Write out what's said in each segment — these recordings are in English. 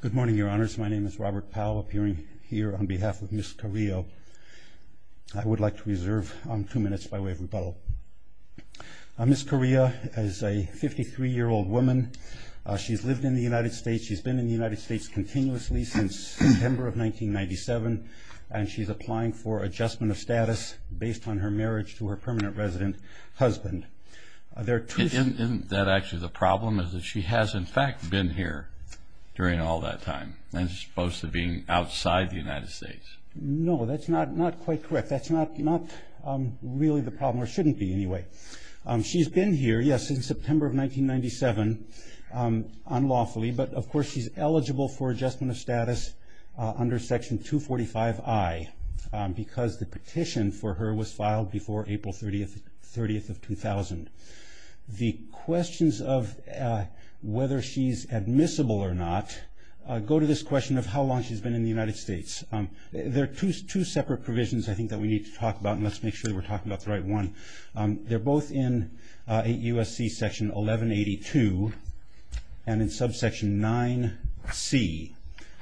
Good morning, Your Honors. My name is Robert Powell, appearing here on behalf of Ms. Carrillo. I would like to reserve two minutes by way of rebuttal. Ms. Carrillo is a 53-year-old woman. She's lived in the United States. She's been in the United States continuously since September of 1997, and she's applying for adjustment of status based on her marriage to her permanent resident husband. Isn't that actually the problem, is that she has, in fact, been here during all that time, as opposed to being outside the United States? No, that's not quite correct. That's not really the problem, or shouldn't be, anyway. She's been here, yes, since September of 1997, unlawfully, but of course she's eligible for adjustment of status under Section 245I because the petition for her was filed before April 30th of 2000. The questions of whether she's admissible or not go to this question of how long she's been in the United States. There are two separate provisions, I think, that we need to talk about, and let's make sure that we're talking about the right one. They're both in USC Section 1182 and in Subsection 9C,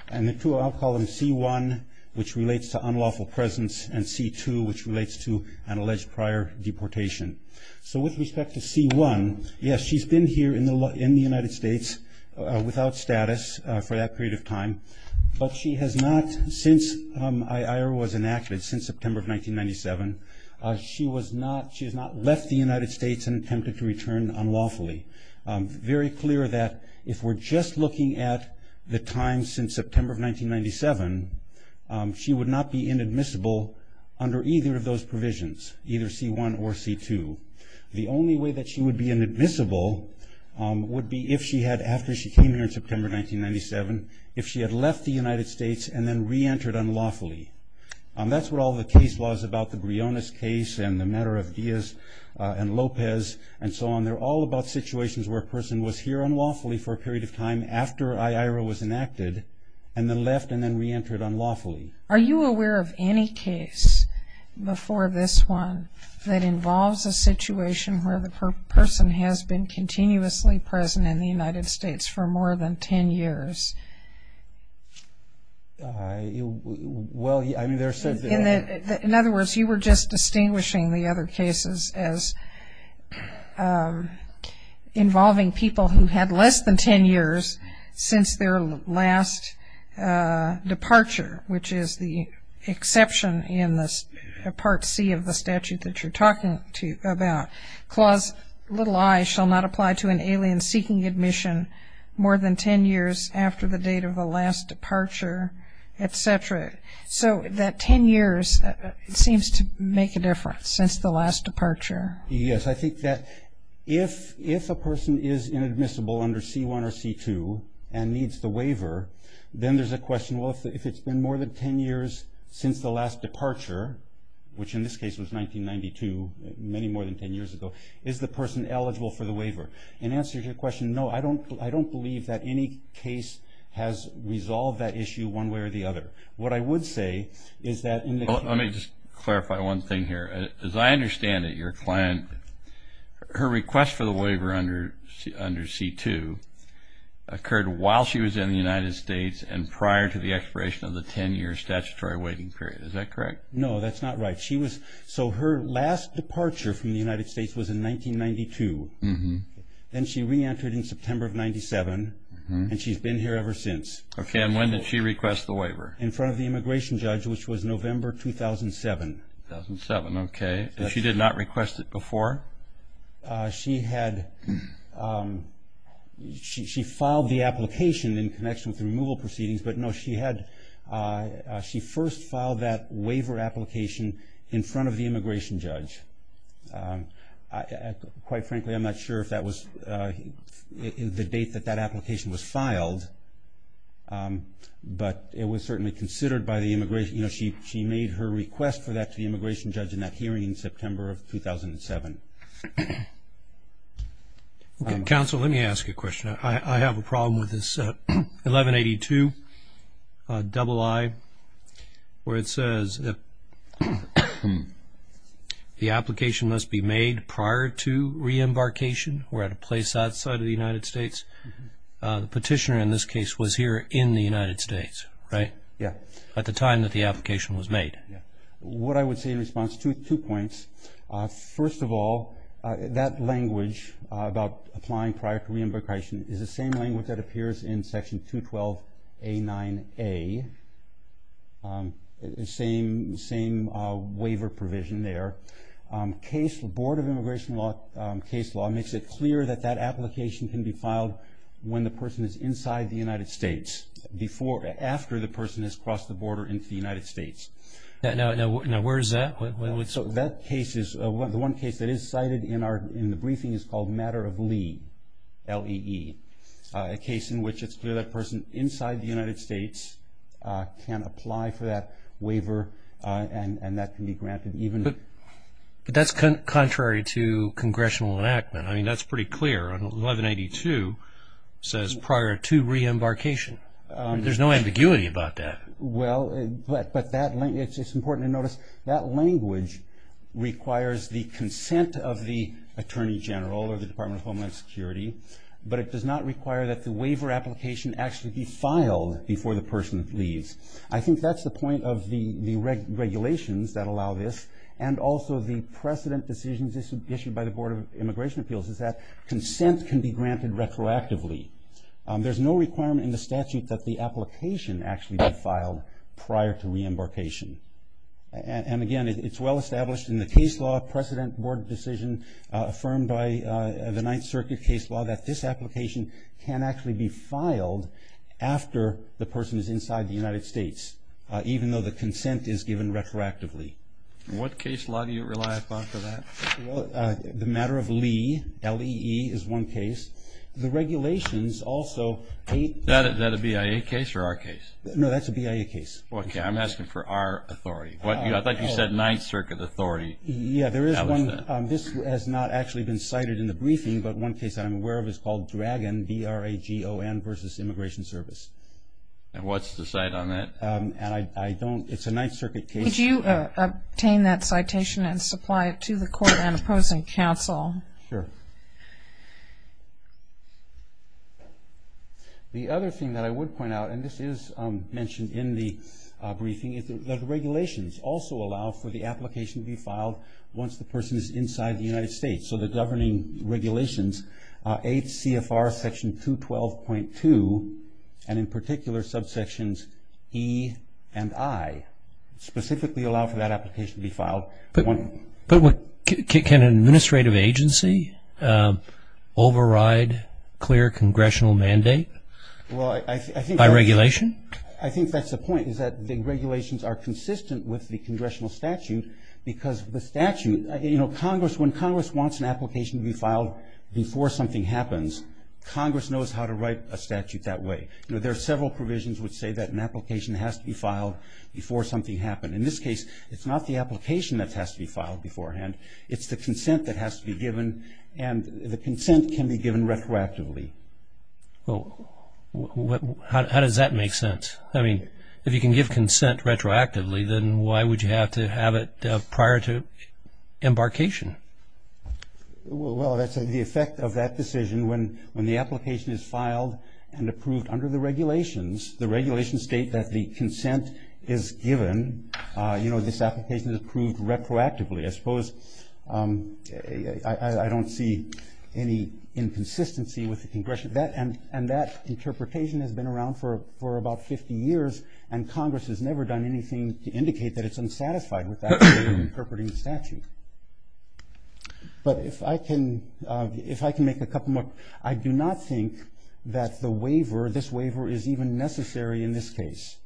and the two I'll call them C1, which relates to unlawful presence, and C2, which relates to an alleged prior deportation. So with respect to C1, yes, she's been here in the United States without status for that period of time, but she has not, since IAR was enacted, since September of 1997, she has not left the United States and attempted to return unlawfully. Very clear that if we're just looking at the time since September of 1997, she would not be inadmissible under either of those provisions, either C1 or C2. The only way that she would be inadmissible would be if she had, after she came here in September 1997, if she had left the United States and then reentered unlawfully. That's what all the case laws about, the Briones case and the matter of Diaz and Lopez and so on, they're all about situations where a person was here unlawfully for a period of time after IAR was enacted and then left and then reentered unlawfully. Are you aware of any case before this one that involves a situation where the person has been continuously present in the United States for more than 10 years? In other words, you were just distinguishing the other cases as involving people who had less than 10 years since their last departure, which is the exception in Part C of the statute that you're talking about. Clause little I shall not apply to an alien seeking admission more than 10 years after the date of the last departure, et cetera. So that 10 years seems to make a difference since the last departure. Yes, I think that if a person is inadmissible under C1 or C2 and needs the waiver, then there's a question, well, if it's been more than 10 years since the last departure, which in this case was 1992, many more than 10 years ago, is the person eligible for the waiver? In answer to your question, no. I don't believe that any case has resolved that issue one way or the other. What I would say is that in the case... Let me just clarify one thing here. As I understand it, your client, her request for the waiver under C2 occurred while she was in the United States and prior to the expiration of the 10-year statutory waiting period. Is that correct? No, that's not right. Her last departure from the United States was in 1992. Then she re-entered in September of 1997, and she's been here ever since. Okay, and when did she request the waiver? In front of the immigration judge, which was November 2007. 2007, okay. And she did not request it before? She filed the application in connection with the removal proceedings, but no, she first filed that waiver application in front of the immigration judge. Quite frankly, I'm not sure if that was the date that that application was filed, but it was certainly considered by the immigration judge. She made her request for that to the immigration judge in that hearing in September of 2007. Counsel, let me ask you a question. I have a problem with this 1182, double I, where it says the application must be made prior to re-embarkation. We're at a place outside of the United States. The petitioner in this case was here in the United States, right? Yeah. At the time that the application was made. Yeah. What I would say in response to two points, first of all, that language about applying prior to re-embarkation is the same language that appears in Section 212A9A, the same waiver provision there. The Board of Immigration case law makes it clear that that application can be filed when the person is inside the United States, after the person has crossed the border into the United States. Now, where is that? The one case that is cited in the briefing is called Matter of Lee, L-E-E, a case in which it's clear that person inside the United States can apply for that waiver and that can be granted even. But that's contrary to congressional enactment. I mean, that's pretty clear. 1182 says prior to re-embarkation. There's no ambiguity about that. But it's important to notice that language requires the consent of the Attorney General or the Department of Homeland Security, but it does not require that the waiver application actually be filed before the person leaves. I think that's the point of the regulations that allow this and also the precedent decisions issued by the Board of Immigration Appeals is that consent can be granted retroactively. There's no requirement in the statute that the application actually be filed prior to re-embarkation. And, again, it's well established in the case law precedent board decision affirmed by the Ninth Circuit case law that this application can actually be filed after the person is inside the United States, even though the consent is given retroactively. What case law do you rely upon for that? The Matter of Lee, L-E-E, is one case. The regulations also – Is that a BIA case or our case? No, that's a BIA case. Okay, I'm asking for our authority. I thought you said Ninth Circuit authority. Yeah, there is one. This has not actually been cited in the briefing, but one case I'm aware of is called Dragon, D-R-A-G-O-N, versus Immigration Service. And what's the cite on that? It's a Ninth Circuit case. Could you obtain that citation and supply it to the court and opposing counsel? Sure. The other thing that I would point out, and this is mentioned in the briefing, is that the regulations also allow for the application to be filed once the person is inside the United States. So the governing regulations, 8 CFR section 212.2, and in particular subsections E and I, specifically allow for that application to be filed. But can an administrative agency override clear congressional mandate by regulation? I think that's the point, is that the regulations are consistent with the congressional statute because the statute – you know, Congress, when Congress wants an application to be filed before something happens, Congress knows how to write a statute that way. You know, there are several provisions which say that an application has to be filed before something happened. In this case, it's not the application that has to be filed beforehand. It's the consent that has to be given, and the consent can be given retroactively. Well, how does that make sense? I mean, if you can give consent retroactively, then why would you have to have it prior to embarkation? Well, that's the effect of that decision. When the application is filed and approved under the regulations, the regulations state that the consent is given, you know, this application is approved retroactively. I suppose I don't see any inconsistency with the congressional – and that interpretation has been around for about 50 years, and Congress has never done anything to indicate that it's unsatisfied with that way of interpreting the statute. But if I can make a couple more – I do not think that the waiver, or this waiver, is even necessary in this case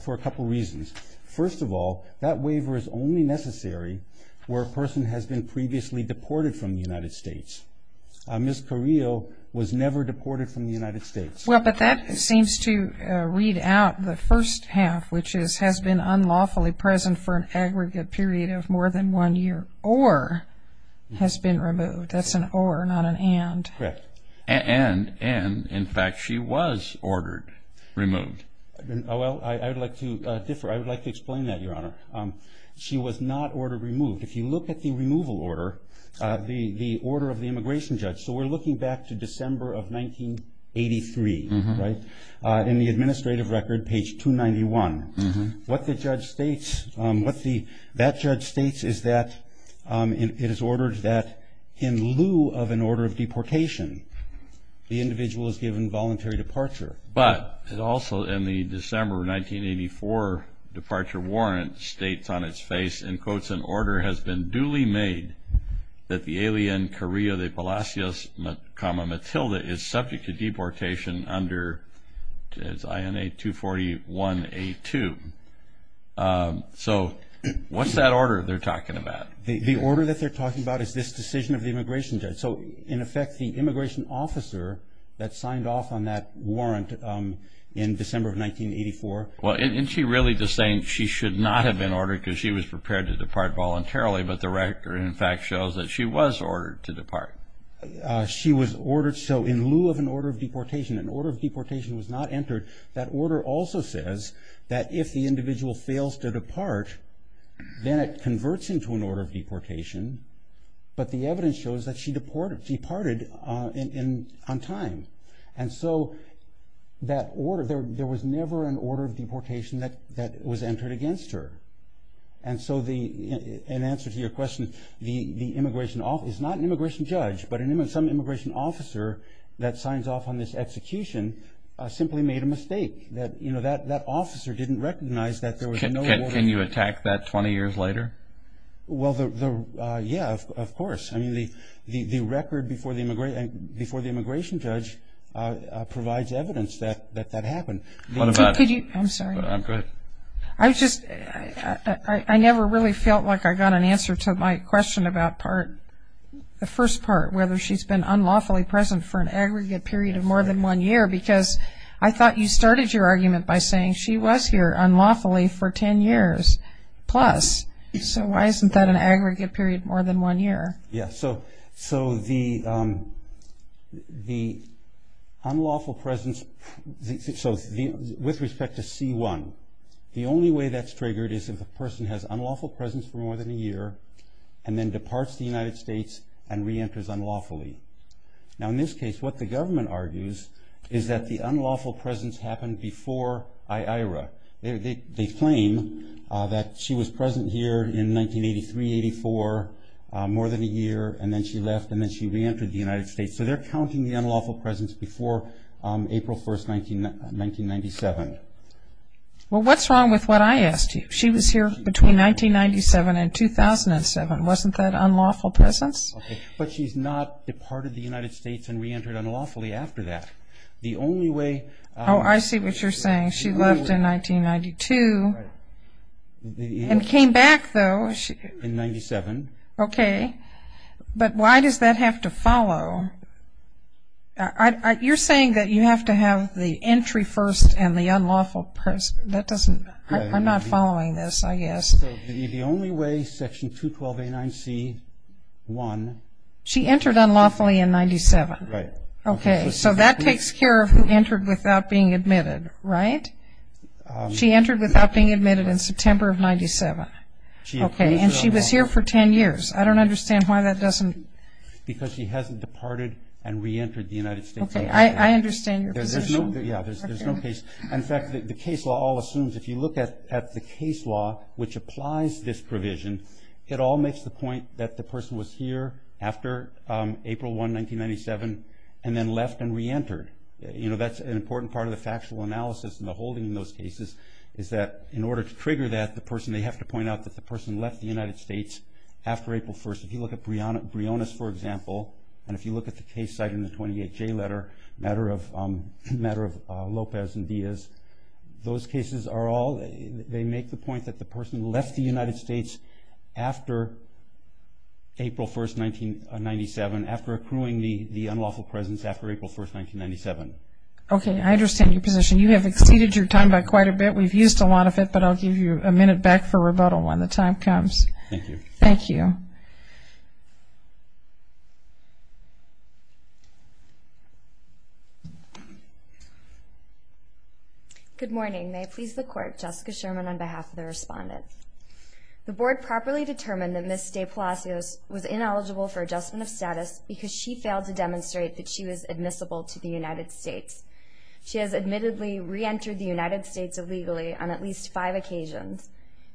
for a couple reasons. First of all, that waiver is only necessary where a person has been previously deported from the United States. Ms. Carrillo was never deported from the United States. Well, but that seems to read out the first half, which is has been unlawfully present for an aggregate period of more than one year or has been removed. That's an or, not an and. Correct. And, in fact, she was ordered removed. Well, I would like to differ. I would like to explain that, Your Honor. She was not ordered removed. If you look at the removal order, the order of the immigration judge – so we're looking back to December of 1983, right, in the administrative record, page 291. What the judge states, what that judge states is that it is ordered that in lieu of an order of deportation, the individual is given voluntary departure. But it also, in the December 1984 departure warrant, states on its face, in quotes, an order has been duly made that the alien Carrillo de Palacios, Matilda, is subject to deportation under INA 241A2. So what's that order they're talking about? The order that they're talking about is this decision of the immigration judge. So, in effect, the immigration officer that signed off on that warrant in December of 1984. Well, isn't she really just saying she should not have been ordered because she was prepared to depart voluntarily, but the record, in fact, shows that she was ordered to depart? She was ordered. So in lieu of an order of deportation, an order of deportation was not entered. That order also says that if the individual fails to depart, then it converts into an order of deportation, but the evidence shows that she departed on time. And so that order, there was never an order of deportation that was entered against her. And so in answer to your question, the immigration officer, it's not an immigration judge, but some immigration officer that signs off on this execution simply made a mistake. That officer didn't recognize that there was no order. Can you attack that 20 years later? Well, yeah, of course. I mean, the record before the immigration judge provides evidence that that happened. I'm sorry. Go ahead. I just, I never really felt like I got an answer to my question about part, the first part, whether she's been unlawfully present for an aggregate period of more than one year because I thought you started your argument by saying she was here unlawfully for 10 years plus. So why isn't that an aggregate period more than one year? Yeah, so the unlawful presence, so with respect to C1, the only way that's triggered is if the person has unlawful presence for more than a year and then departs the United States and reenters unlawfully. Now, in this case, what the government argues is that the unlawful presence happened before Aira. They claim that she was present here in 1983, 1984, more than a year, and then she left and then she reentered the United States. So they're counting the unlawful presence before April 1, 1997. Well, what's wrong with what I asked you? She was here between 1997 and 2007. Wasn't that unlawful presence? Okay, but she's not departed the United States and reentered unlawfully after that. The only way – Oh, I see what you're saying. She left in 1992 and came back, though. In 1997. Okay, but why does that have to follow? You're saying that you have to have the entry first and the unlawful presence. That doesn't – I'm not following this, I guess. So the only way Section 212A9C-1 – She entered unlawfully in 1997. Right. Okay, so that takes care of who entered without being admitted, right? She entered without being admitted in September of 1997. Okay, and she was here for 10 years. I don't understand why that doesn't – Because she hasn't departed and reentered the United States. Okay, I understand your position. Yeah, there's no case. And, in fact, the case law all assumes if you look at the case law, which applies this provision, it all makes the point that the person was here after April 1, 1997, and then left and reentered. That's an important part of the factual analysis and the holding in those cases, is that in order to trigger that, the person – they have to point out that the person left the United States after April 1. If you look at Briones, for example, and if you look at the case cited in the 28J letter, the matter of Lopez and Diaz, those cases are all – they make the point that the person left the United States after April 1, 1997, after accruing the unlawful presence after April 1, 1997. Okay, I understand your position. You have exceeded your time by quite a bit. We've used a lot of it, but I'll give you a minute back for rebuttal when the time comes. Thank you. Thank you. Good morning. May it please the Court, Jessica Sherman on behalf of the Respondent. The Board properly determined that Ms. De Palacios was ineligible for adjustment of status because she failed to demonstrate that she was admissible to the United States. She has admittedly reentered the United States illegally on at least five occasions.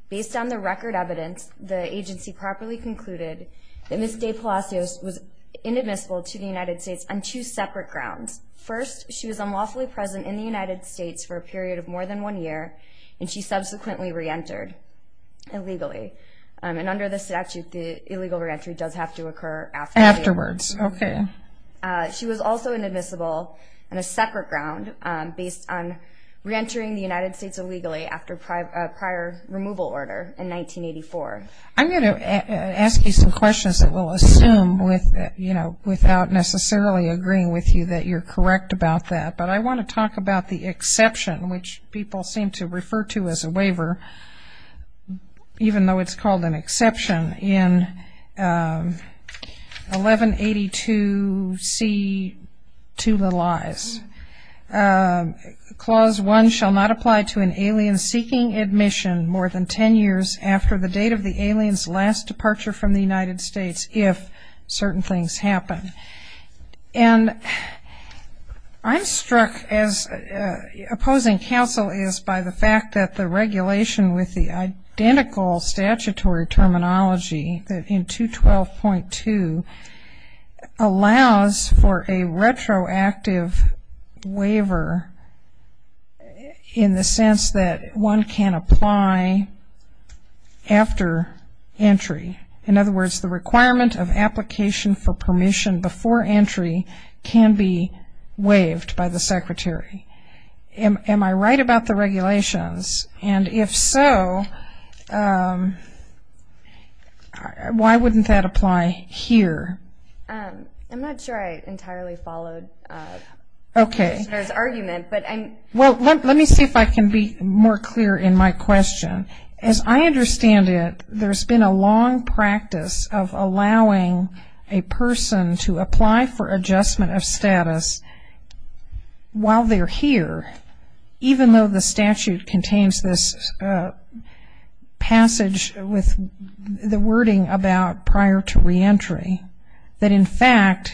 Based on the record evidence, the agency properly concluded that Ms. De Palacios was inadmissible to the United States on two separate grounds, first she was unlawfully present in the United States for a period of more than one year and she subsequently reentered illegally. And under the statute, the illegal reentry does have to occur afterwards. Afterwards, okay. She was also inadmissible on a separate ground based on reentering the United States illegally after a prior removal order in 1984. I'm going to ask you some questions that we'll assume without necessarily agreeing with you that you're correct about that. But I want to talk about the exception, which people seem to refer to as a waiver, even though it's called an exception, in 1182C to the lies. Clause one shall not apply to an alien seeking admission more than ten years after the date of the alien's last departure from the United States if certain things happen. And I'm struck as opposing counsel is by the fact that the regulation with the identical statutory terminology in 212.2 allows for a retroactive waiver in the sense that one can apply after entry. In other words, the requirement of application for permission before entry can be waived by the secretary. Am I right about the regulations? And if so, why wouldn't that apply here? I'm not sure I entirely followed the argument. Well, let me see if I can be more clear in my question. As I understand it, there's been a long practice of allowing a person to apply for adjustment of status while they're here, even though the statute contains this passage with the wording about prior to reentry, that, in fact,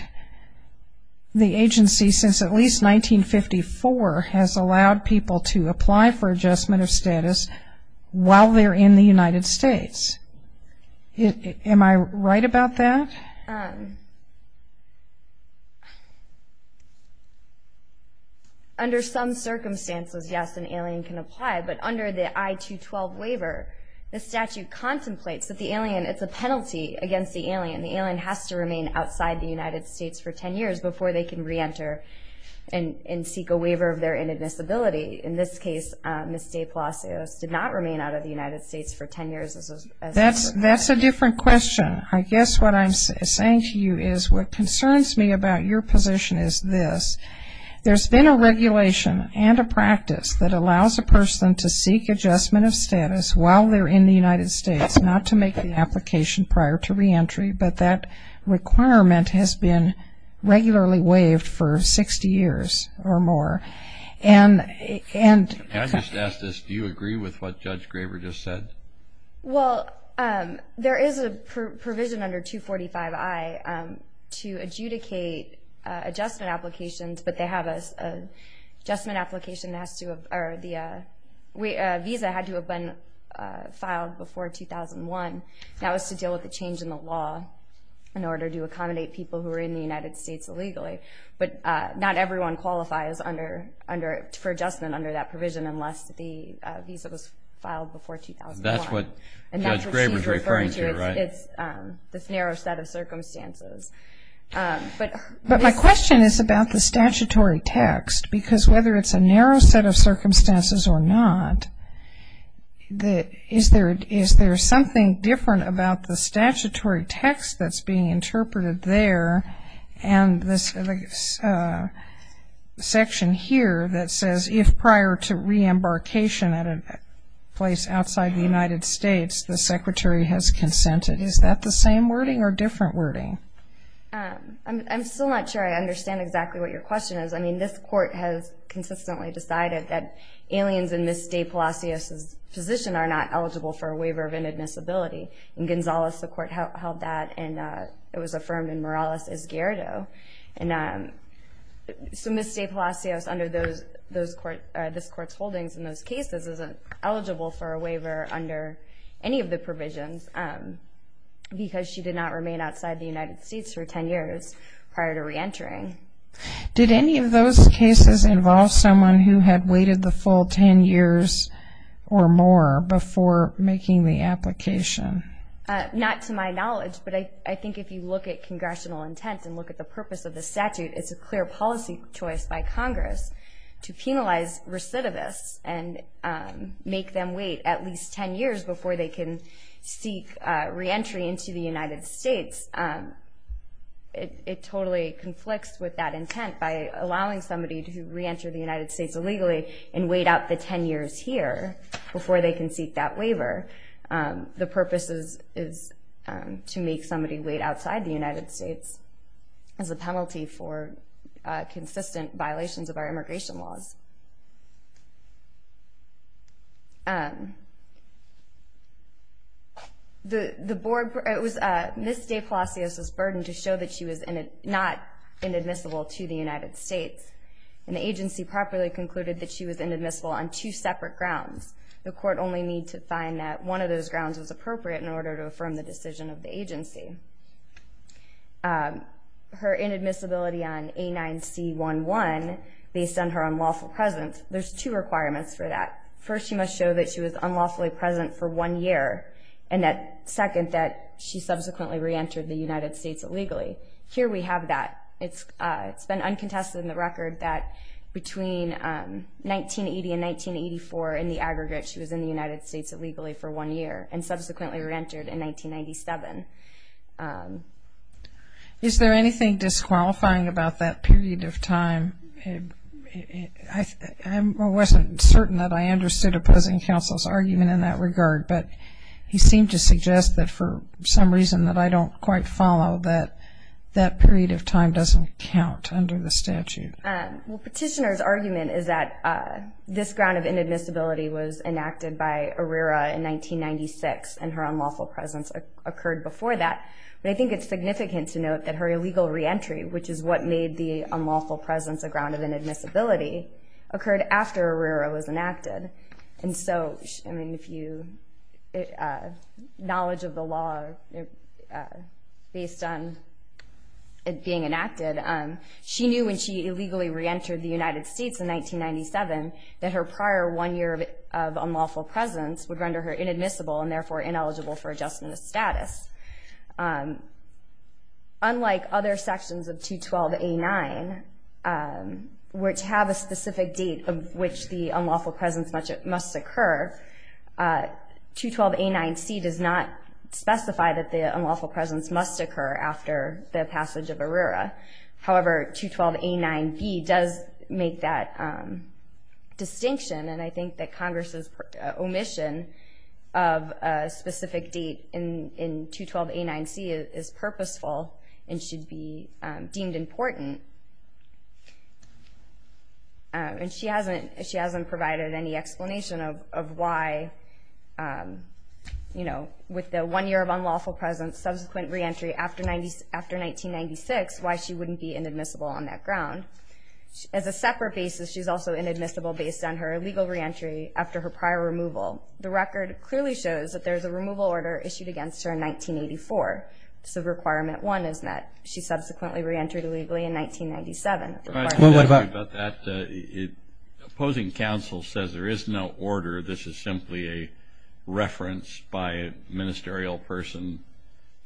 the agency, since at least 1954, has allowed people to apply for adjustment of status while they're in the United States. Am I right about that? Under some circumstances, yes, an alien can apply, but under the I-212 waiver, the statute contemplates that the alien, it's a penalty against the alien. The alien has to remain outside the United States for ten years before they can reenter and seek a waiver of their inadmissibility. In this case, Ms. Day-Palacios did not remain out of the United States for ten years. That's a different question. I guess what I'm saying to you is what concerns me about your position is this. There's been a regulation and a practice that allows a person to seek adjustment of status while they're in the United States, not to make the application prior to reentry, but that requirement has been regularly waived for 60 years or more. Can I just ask this? Do you agree with what Judge Graber just said? Well, there is a provision under 245I to adjudicate adjustment applications, but they have an adjustment application that has to have, or the visa had to have been filed before 2001. That was to deal with the change in the law in order to accommodate people who are in the United States illegally, but not everyone qualifies for adjustment under that provision unless the visa was filed before 2001. That's what Judge Graber is referring to, right? It's this narrow set of circumstances. But my question is about the statutory text, because whether it's a narrow set of circumstances or not, is there something different about the statutory text that's being interpreted there and this section here that says if prior to reembarkation at a place outside the United States, the secretary has consented. Is that the same wording or different wording? I'm still not sure I understand exactly what your question is. I mean, this court has consistently decided that aliens in Ms. Day-Palacios's position are not eligible for a waiver of inadmissibility. In Gonzales, the court held that, and it was affirmed in Morales-Esguerdo. And so Ms. Day-Palacios, under this court's holdings in those cases, isn't eligible for a waiver under any of the provisions because she did not remain outside the United States for 10 years prior to reentering. Did any of those cases involve someone who had waited the full 10 years or more before making the application? Not to my knowledge, but I think if you look at congressional intents and look at the purpose of the statute, it's a clear policy choice by Congress to penalize recidivists and make them wait at least 10 years before they can seek reentry into the United States. It totally conflicts with that intent by allowing somebody to reenter the United States illegally and wait out the 10 years here before they can seek that waiver. The purpose is to make somebody wait outside the United States as a penalty for consistent violations of our immigration laws. Ms. Day-Palacios was burdened to show that she was not inadmissible to the United States, and the agency properly concluded that she was inadmissible on two separate grounds. The court only need to find that one of those grounds was appropriate in order to affirm the decision of the agency. Her inadmissibility on A9C11, based on her unlawful presence, there's two requirements for that. First, she must show that she was unlawfully present for one year, and second, that she subsequently reentered the United States illegally. Here we have that. It's been uncontested in the record that between 1980 and 1984, in the aggregate, she was in the United States illegally for one year and subsequently reentered in 1997. Is there anything disqualifying about that period of time? I wasn't certain that I understood opposing counsel's argument in that regard, but he seemed to suggest that for some reason that I don't quite follow that that period of time doesn't count under the statute. Well, petitioner's argument is that this ground of inadmissibility was enacted by Arrera in 1996, and her unlawful presence occurred before that, but I think it's significant to note that her illegal reentry, which is what made the unlawful presence a ground of inadmissibility, occurred after Arrera was enacted. And so, I mean, if you... Knowledge of the law, based on it being enacted, she knew when she illegally reentered the United States in 1997 that her prior one year of unlawful presence would render her inadmissible and therefore ineligible for adjustment of status. Unlike other sections of 212A9, which have a specific date of which the unlawful presence must occur, 212A9C does not specify that the unlawful presence must occur after the passage of Arrera. However, 212A9B does make that distinction, and I think that Congress's omission of a specific date in 212A9C is purposeful and should be deemed important. And she hasn't provided any explanation of why, you know, with the one year of unlawful presence, subsequent reentry after 1996, why she wouldn't be inadmissible on that ground. As a separate basis, she's also inadmissible based on her illegal reentry after her prior removal. The record clearly shows that there's a removal order issued against her in 1984, so Requirement 1 is met. She subsequently reentered illegally in 1997. Opposing counsel says there is no order. This is simply a reference by a ministerial person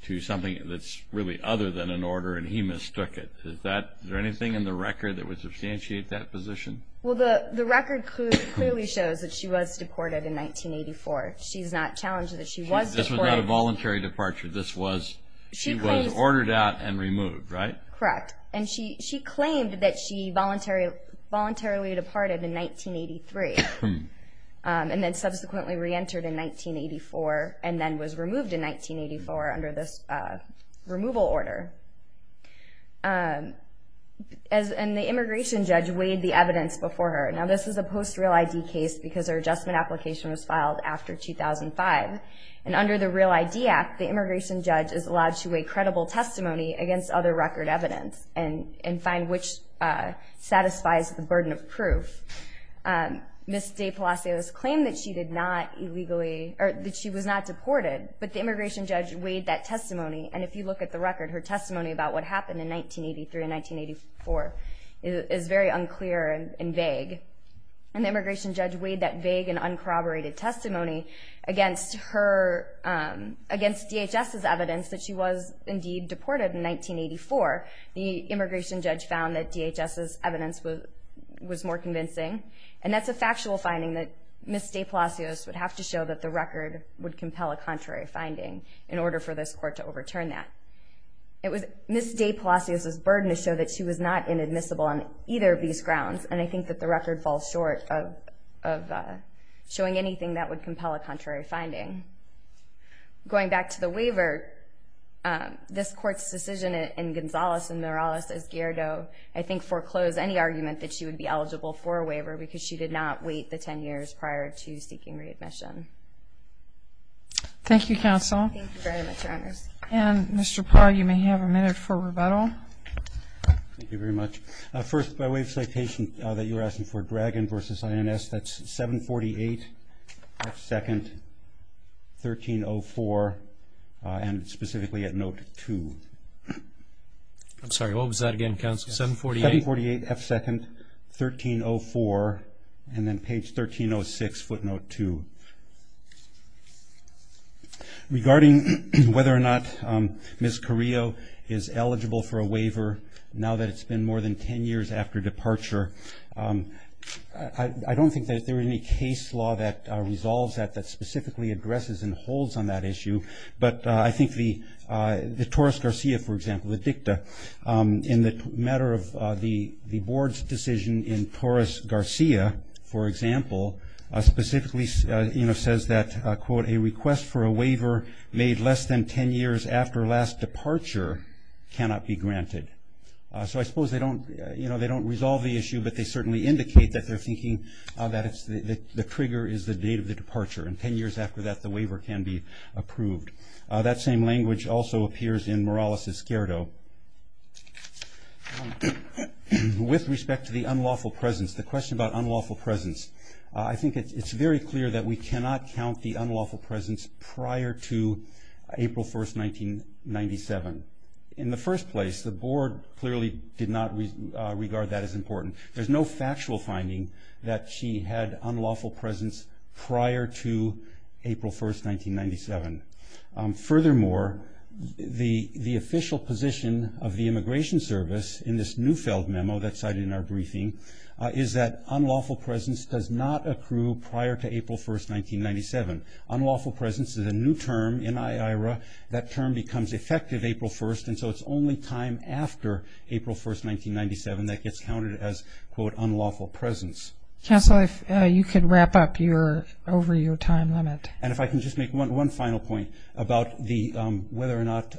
to something that's really other than an order, and he mistook it. Is there anything in the record that would substantiate that position? Well, the record clearly shows that she was deported in 1984. She's not challenged that she was deported. This was not a voluntary departure. This was ordered out and removed, right? Correct. And she claimed that she voluntarily departed in 1983 and then subsequently reentered in 1984 and then was removed in 1984 under this removal order. And the immigration judge weighed the evidence before her. Now, this is a post-real ID case because her adjustment application was filed after 2005. And under the Real ID Act, the immigration judge is allowed to weigh credible testimony against other record evidence and find which satisfies the burden of proof. Ms. De Palacios claimed that she was not deported, but the immigration judge weighed that testimony. And if you look at the record, her testimony about what happened in 1983 and 1984 is very unclear and vague. And the immigration judge weighed that vague and uncorroborated testimony against DHS's evidence that she was indeed deported in 1984. The immigration judge found that DHS's evidence was more convincing. And that's a factual finding that Ms. De Palacios would have to show that the record would compel a contrary finding in order for this court to overturn that. It was Ms. De Palacios's burden to show that she was not inadmissible on either of these grounds, and I think that the record falls short of showing anything that would compel a contrary finding. Going back to the waiver, this court's decision in Gonzales and Morales as Gerdau, I think foreclosed any argument that she would be eligible for a waiver because she did not wait the 10 years prior to seeking readmission. Thank you, Counsel. Thank you very much, Your Honors. And, Mr. Paul, you may have a minute for rebuttal. Thank you very much. First, by way of citation that you were asking for, page 1304 and specifically at note 2. I'm sorry, what was that again, Counsel? 748? 748F2nd, 1304, and then page 1306, footnote 2. Regarding whether or not Ms. Carrillo is eligible for a waiver, now that it's been more than 10 years after departure, I don't think that there is any case law that resolves that, that specifically addresses and holds on that issue. But I think the Torres-Garcia, for example, the dicta, in the matter of the Board's decision in Torres-Garcia, for example, specifically says that, quote, a request for a waiver made less than 10 years after last departure cannot be granted. So I suppose they don't resolve the issue, but they certainly indicate that they're thinking that the trigger is the date of the departure, and 10 years after that the waiver can be approved. That same language also appears in Morales' skirto. With respect to the unlawful presence, the question about unlawful presence, I think it's very clear that we cannot count the unlawful presence prior to April 1, 1997. In the first place, the Board clearly did not regard that as important. There's no factual finding that she had unlawful presence prior to April 1, 1997. Furthermore, the official position of the Immigration Service in this Neufeld memo that's cited in our briefing is that unlawful presence does not accrue prior to April 1, 1997. Unlawful presence is a new term in IAERA. That term becomes effective April 1, and so it's only time after April 1, 1997, that gets counted as, quote, unlawful presence. Counsel, if you could wrap up over your time limit. And if I can just make one final point about whether or not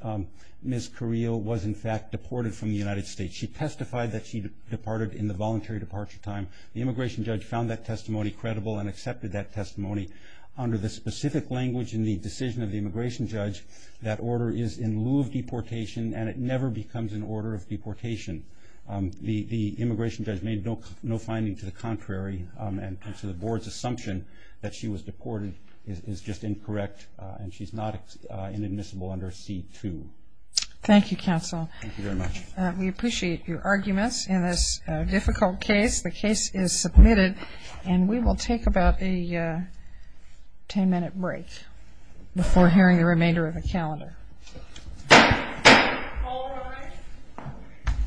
Ms. Carrillo was, in fact, deported from the United States. She testified that she departed in the voluntary departure time. The immigration judge found that testimony credible and accepted that testimony. Under the specific language in the decision of the immigration judge, that order is in lieu of deportation, and it never becomes an order of deportation. The immigration judge made no finding to the contrary, and so the Board's assumption that she was deported is just incorrect, and she's not inadmissible under C-2. Thank you, Counsel. Thank you very much. We appreciate your arguments in this difficult case. The case is submitted, and we will take about a ten-minute break before hearing the remainder of the calendar. All rise.